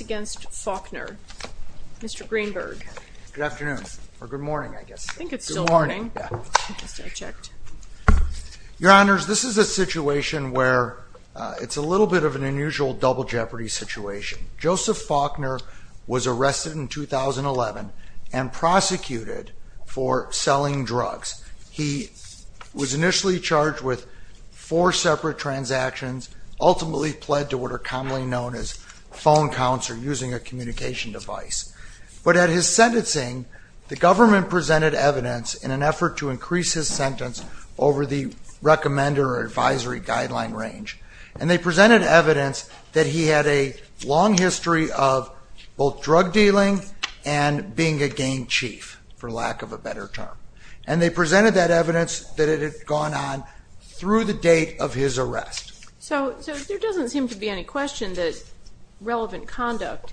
against Faulkner. Mr. Greenberg. Good afternoon, or good morning, I guess. I think it's still morning. I just unchecked. Your Honors, this is a situation where it's a little bit of an unusual double jeopardy situation. Joseph Faulkner was arrested in 2011 and prosecuted for selling drugs. He was initially charged with four separate transactions, ultimately pled to what are commonly known as phone counts or using a communication device. But at his sentencing, the government presented evidence in an effort to increase his sentence over the recommender or advisory guideline range. And they presented evidence that he had a long history of both drug dealing and being a gang chief, for lack of a better term. And they presented that evidence that it had gone on through the date of his arrest. So there doesn't seem to be any question that relevant conduct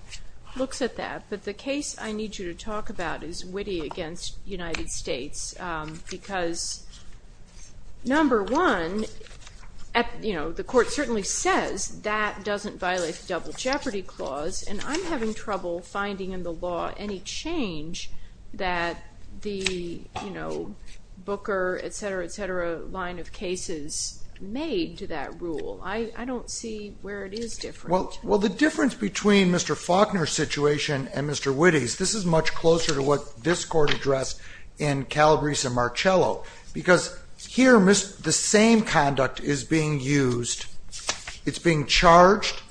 looks at that. But the case I need you to talk about is Witte against United States. Because number one, the court certainly says that doesn't violate the double jeopardy clause. And I'm having trouble finding in the law any change that the Booker, et cetera, et cetera, line of cases made to that rule. I don't see where it is different. Well, the difference between Mr. Faulkner's situation and Mr. Witte's, this is much closer to what this court addressed in Calabrese and Marcello. Because here, the same conduct is being used. It's being charged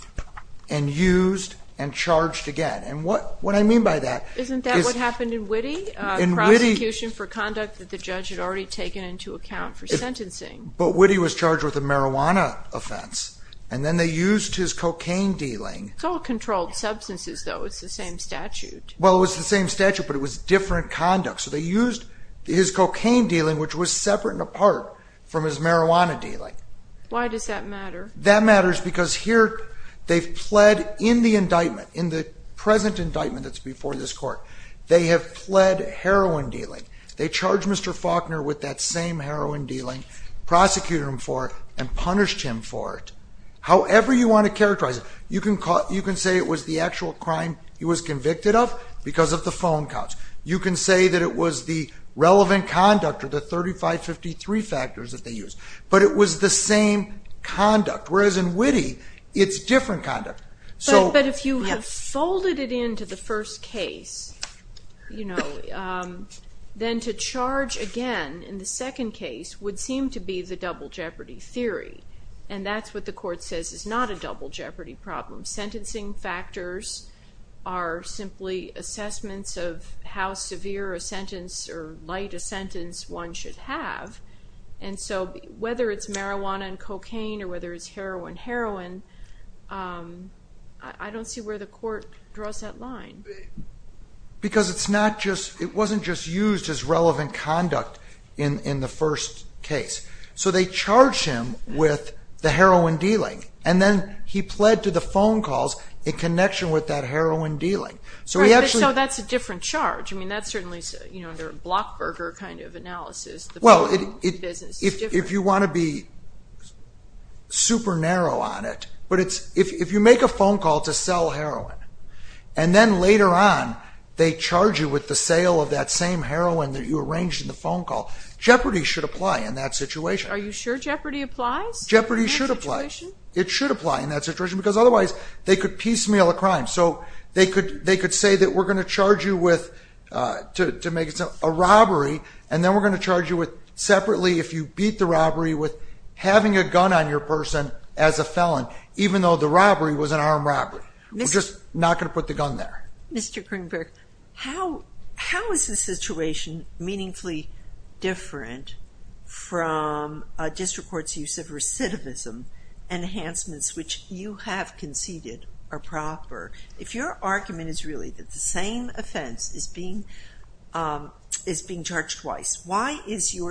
and used and charged again. And what I mean by that is... Isn't that what happened in Witte? Prosecution for conduct that the judge had already taken into account for sentencing. But Witte was a marijuana offense. And then they used his cocaine dealing. It's all controlled substances though. It's the same statute. Well, it was the same statute, but it was different conduct. So they used his cocaine dealing, which was separate and apart from his marijuana dealing. Why does that matter? That matters because here, they've pled in the indictment, in the present indictment that's before this court, they have pled heroin dealing. They charged Mr. Faulkner with that same heroin dealing, prosecuted him for it, and punished him for it. However you want to characterize it, you can say it was the actual crime he was convicted of because of the phone calls. You can say that it was the relevant conduct, or the 3553 factors that they used. But it was the same conduct. Whereas in Witte, it's different conduct. But if you have folded it into the first case, you know, then to charge him, charge again in the second case would seem to be the double jeopardy theory. And that's what the court says is not a double jeopardy problem. Sentencing factors are simply assessments of how severe a sentence or light a sentence one should have. And so whether it's marijuana and cocaine, or whether it's heroin, heroin, I don't see where the court draws that line. Because it's not just, it wasn't just used as relevant conduct in the first case. So they charge him with the heroin dealing. And then he pled to the phone calls in connection with that heroin dealing. So that's a different charge. I mean, that's certainly, you know, under a Blockburger kind of analysis, the phone business is different. If you want to be super narrow on it, but it's, if you make a phone call to sell heroin, and then later on, they charge you with the sale of that same heroin that you arranged in the phone call, jeopardy should apply in that situation. Are you sure jeopardy applies? Jeopardy should apply. It should apply in that situation, because otherwise they could piecemeal a crime. So they could, they could say that we're going to charge you with, to make it a robbery. And then we're going to charge you with separately, if you beat the robbery with having a gun on your person as a felon, even though the robbery was an armed robbery. We're just not going to put the gun there. Mr. Greenberg, how, how is this situation meaningfully different from a district court's use of recidivism enhancements, which you have conceded are proper? If your argument is really that the same offense is being, is being charged twice, why is your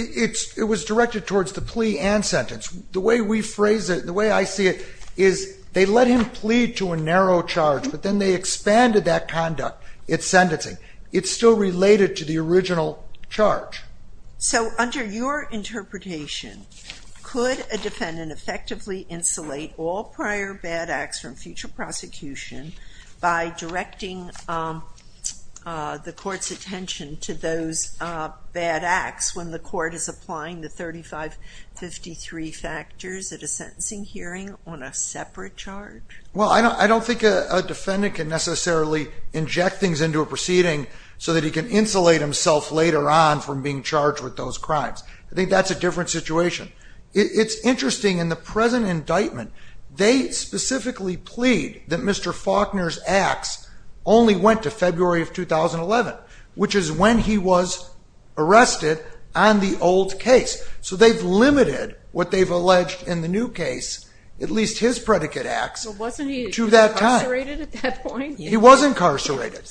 It's, it was directed towards the plea and sentence. The way we phrase it, the way I see it, is they let him plead to a narrow charge, but then they expanded that conduct, its sentencing. It's still related to the original charge. So under your interpretation, could a defendant effectively insulate all prior bad acts from future prosecution by directing the court's attention to those bad acts when the court is applying the 3553 factors at a sentencing hearing on a separate charge? Well, I don't, I don't think a defendant can necessarily inject things into a proceeding so that he can insulate himself later on from being charged with those crimes. I think that's a different situation. It's interesting, in the present indictment, they specifically plead that Mr. Faulkner's acts only went to February of 2011, which is when he was arrested on the old case. So they've limited what they've alleged in the new case, at least his predicate acts, to that time. So wasn't he incarcerated at that point? He was incarcerated,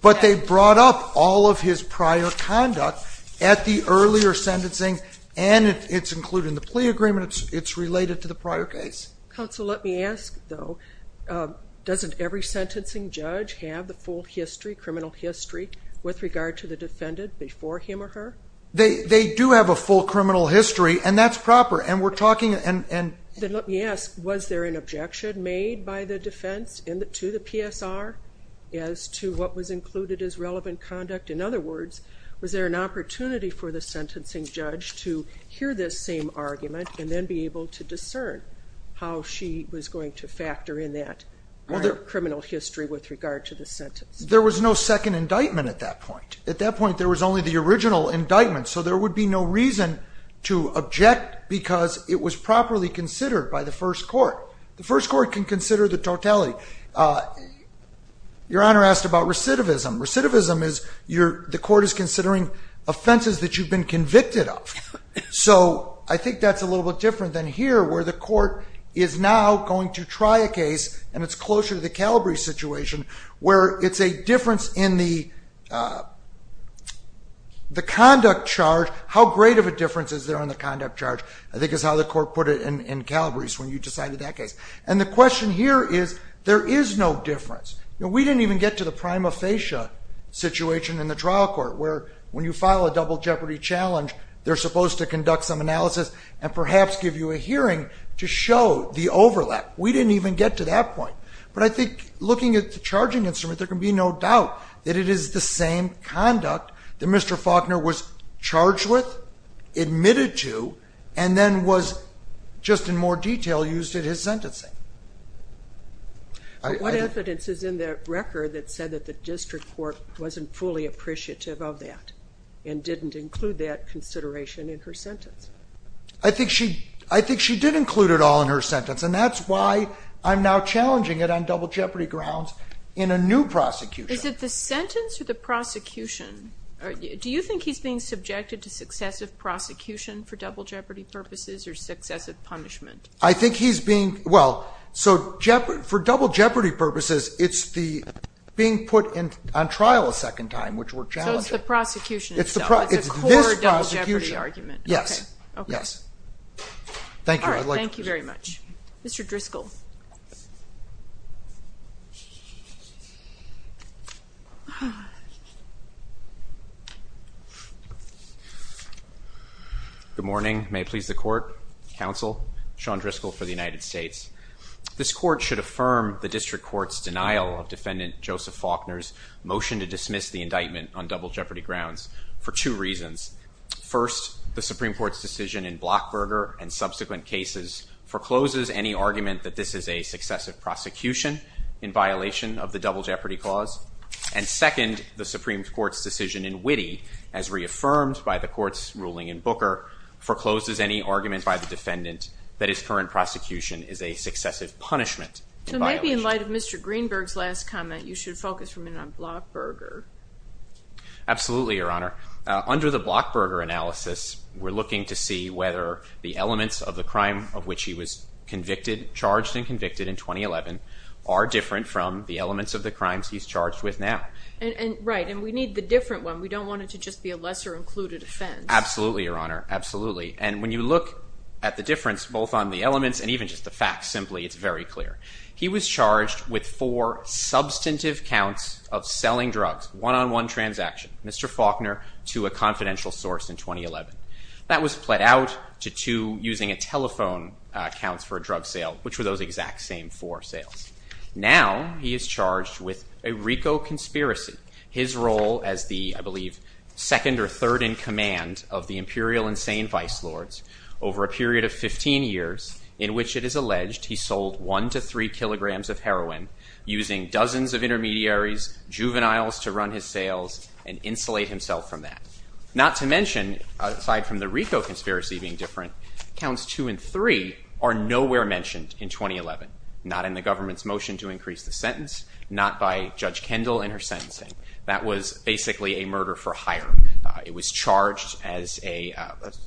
but they brought up all of his prior conduct at the earlier sentencing and it's included in the plea agreement, it's related to the prior case. Counsel, let me ask, though, doesn't every sentencing judge have the full history, criminal history, with regard to the defendant before him or her? They do have a full criminal history, and that's proper, and we're talking, and... Then let me ask, was there an objection made by the defense to the PSR as to what was included as relevant conduct? In other words, was there an opportunity for the sentencing judge to hear this same argument and then be able to discern how she was going to factor in that criminal history with regard to the sentence? There was no second indictment at that point. At that point, there was only the original indictment, so there would be no reason to object because it was properly considered by the first court. The first court can consider the totality. Your Honor asked about recidivism, and recidivism is the court is considering offenses that you've been convicted of. So I think that's a little bit different than here, where the court is now going to try a case, and it's closer to the Calabrese situation, where it's a difference in the conduct charge. How great of a difference is there in the conduct charge? I think it's how the court put it in Calabrese when you decided that case. The question here is, there is no difference. We didn't even get to the prima facie situation in the trial court, where when you file a double jeopardy challenge, they're supposed to conduct some analysis and perhaps give you a hearing to show the overlap. We didn't even get to that point. But I think looking at the charging instrument, there can be no doubt that it is the same conduct that Mr. Faulkner was charged with, admitted to, and then was, just in more detail, used in his sentencing. What evidence is in the record that said that the district court wasn't fully appreciative of that, and didn't include that consideration in her sentence? I think she did include it all in her sentence, and that's why I'm now challenging it on double jeopardy grounds in a new prosecution. Is it the sentence or the prosecution? Do you think he's being subjected to successive prosecution for double jeopardy purposes, or successive punishment? I think he's being, well, so for double jeopardy purposes, it's the being put on trial a second time, which we're challenging. So it's the prosecution itself? It's this prosecution. It's the core double jeopardy argument? Yes. Okay. Yes. Thank you. All right, thank you very much. Mr. Driscoll. Good morning. May it please the court, counsel, Sean Driscoll for the United States. This court should affirm the district court's denial of defendant Joseph Faulkner's motion to dismiss the indictment on double jeopardy grounds for two reasons. First, the Supreme Court's decision in Blockberger and subsequent cases forecloses any argument that this is a successive prosecution in violation of the double jeopardy clause. And second, the Supreme Court's decision in Witte, as reaffirmed by the court's ruling in Booker, forecloses any argument by the defendant that his current prosecution is a successive punishment. So maybe in light of Mr. Greenberg's last comment, you should focus for a minute on Blockberger. Absolutely, Your Honor. Under the Blockberger analysis, we're looking to see whether the and convicted in 2011 are different from the elements of the crimes he's charged with now. Right. And we need the different one. We don't want it to just be a lesser-included offense. Absolutely, Your Honor. Absolutely. And when you look at the difference, both on the elements and even just the facts simply, it's very clear. He was charged with four substantive counts of selling drugs, one-on-one transaction, Mr. Faulkner, to a confidential source in 2011. That was split out to two using-a-telephone counts for a drug sale, which were those exact same four sales. Now he is charged with a RICO conspiracy, his role as the, I believe, second or third in command of the Imperial Insane Vice Lords over a period of 15 years in which it is alleged he sold one to three kilograms of heroin using dozens of intermediaries, juveniles to run his sales and insulate himself from that. Not to mention, aside from the RICO conspiracy being different, counts two and three are nowhere mentioned in 2011, not in the government's motion to increase the sentence, not by Judge Kendall in her sentencing. That was basically a murder for hire. It was charged as an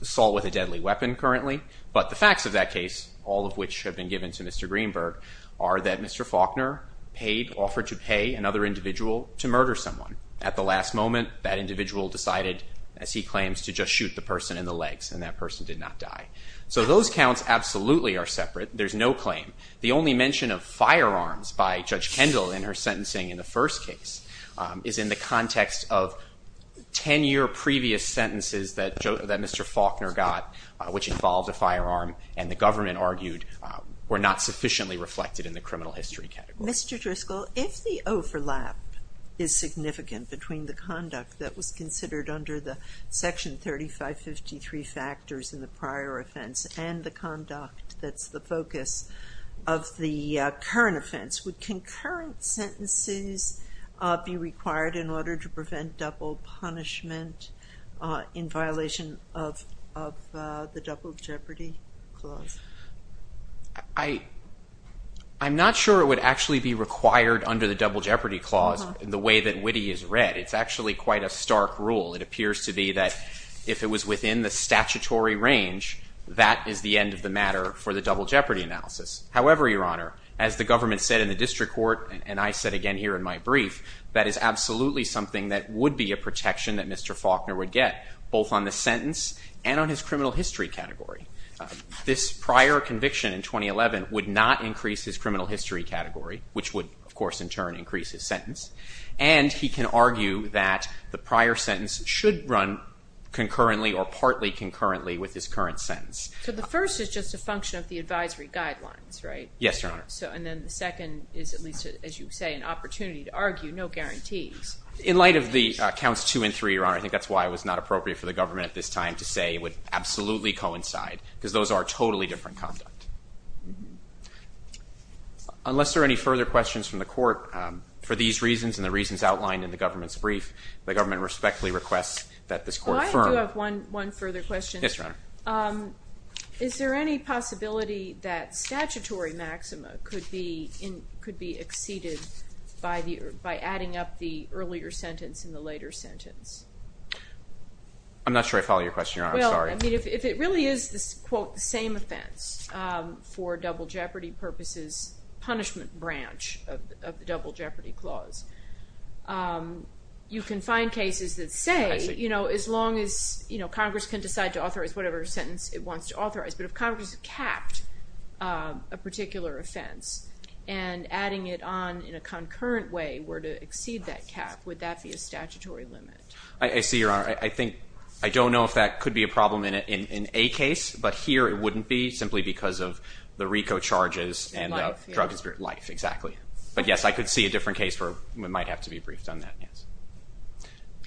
assault with a deadly weapon currently, but the facts of that case, all of which have been given to Mr. Greenberg, are that Mr. Faulkner paid-offered to pay another individual to murder someone. At the last moment, that individual decided, as he claims, to just shoot the person in the legs and that person did not die. So those counts absolutely are separate. There's no claim. The only mention of firearms by Judge Kendall in her sentencing in the first case is in the context of 10-year previous sentences that Mr. Faulkner got, which involved a firearm and the government argued were not sufficiently reflected in the criminal history category. Mr. Driscoll, if the overlap is significant between the conduct that was considered under the Section 3553 factors in the prior offense and the conduct that's the focus of the current offense, would concurrent sentences be required in order to prevent double punishment in violation of the Double Jeopardy Clause? I'm not sure it would actually be required under the Double Jeopardy Clause in the way that Witte has read. It's actually quite a stark rule. It appears to be that if it was within the statutory range, that is the end of the matter for the Double Jeopardy Analysis. However, Your Honor, as the government said in the district court, and I said again here in my brief, that is absolutely something that would be a protection that Mr. Faulkner would get, both on the sentence and on his criminal history category. This prior conviction in 2011 would not increase his criminal history category, which would of course in turn increase his sentence, and he can argue that the prior sentence should run concurrently or partly concurrently with his current sentence. So the first is just a function of the advisory guidelines, right? Yes, Your Honor. And then the second is at least, as you say, an opportunity to argue, no guarantees. In light of the counts two and three, Your Honor, I think that's why it was not appropriate for the government at this time to say it would absolutely coincide, because those are totally different conduct. Unless there are any further questions from the court, for these reasons and the reasons outlined in the government's brief, the government respectfully requests that this court affirm. Oh, I do have one further question. Yes, Your Honor. Is there any possibility that statutory maxima could be exceeded by adding up the earlier sentence and the later sentence? I'm not sure I follow your question, Your Honor. I'm sorry. Well, I mean, if it really is this, quote, the same offense for double jeopardy purposes, punishment branch of the double jeopardy clause, you can find cases that say, you know, as long as, you know, Congress can decide to authorize whatever sentence it wants to authorize, but if Congress capped a particular offense and adding it on in a concurrent way were to exceed that cap, would that be a statutory limit? I see, Your Honor. I think, I don't know if that could be a problem in a case, but here it wouldn't be, simply because of the RICO charges and the drug and spirit life, exactly. But, yes, I could see a different case where it might have to be briefed on that, yes.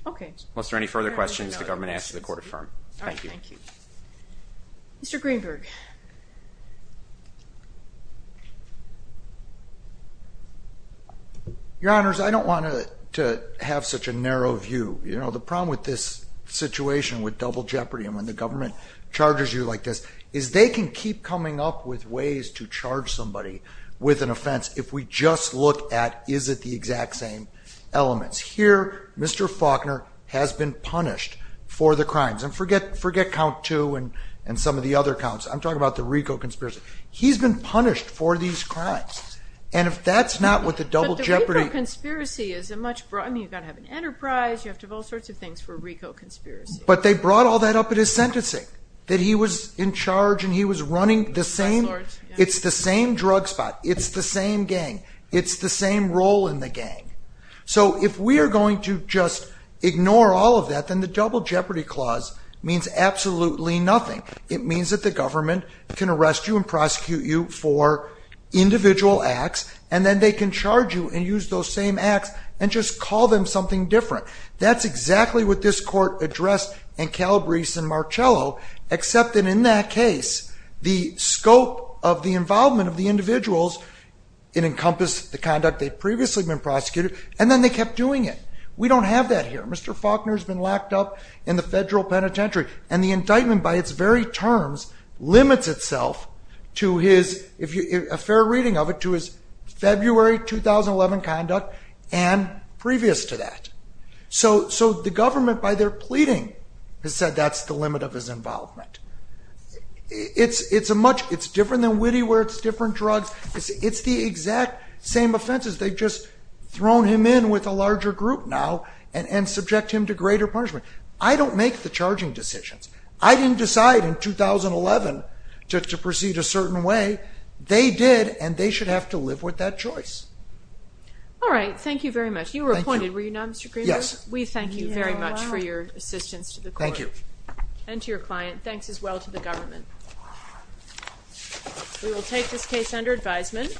Okay. Unless there are any further questions, the government asks that the court affirm. Thank you. Mr. Greenberg. Your Honors, I don't want to have such a narrow view. You know, the problem with this situation with double jeopardy and when the government charges you like this, is they can keep coming up with ways to charge somebody with an offense if we just look at, is it the exact same elements? Here, Mr. Faulkner has been punished for the crimes. And forget count two and some of the other counts. I'm talking about the RICO conspiracy. He's been punished for these crimes. And if that's not what the double jeopardy. But the RICO conspiracy is a much broader, I mean, you've got to have an enterprise. You have to have all sorts of things for RICO conspiracy. But they brought all that up at his sentencing. That he was in charge and he was running the same, it's the same drug spot. It's the same gang. It's the same role in the gang. So if we are going to just ignore all of that, then the double jeopardy clause means absolutely nothing. It means that the government can arrest you and prosecute you for individual acts. And then they can charge you and use those same acts and just call them something different. That's exactly what this court addressed in Calabrese and Marcello. Except that in that case, the scope of the involvement of the individuals, it encompassed the conduct they'd previously been prosecuted. And then they kept doing it. We don't have that here. Mr. Faulkner's been locked up in the federal penitentiary. And the indictment by its very terms limits itself to his, a fair reading of it, to his February 2011 conduct and previous to that. So the government, by their pleading, has said that's the limit of his involvement. It's a much, it's different than Witte where it's different drugs. It's the exact same offenses. They've just thrown him in with a larger group now and subject him to greater punishment. I don't make the charging decisions. I didn't decide in 2011 to proceed a certain way. They did, and they should have to live with that choice. All right, thank you very much. You were appointed, were you not, Mr. Greenberg? Yes. We thank you very much for your assistance to the court. Thank you. And to your client. Thanks as well to the government. We will take this case under advisement.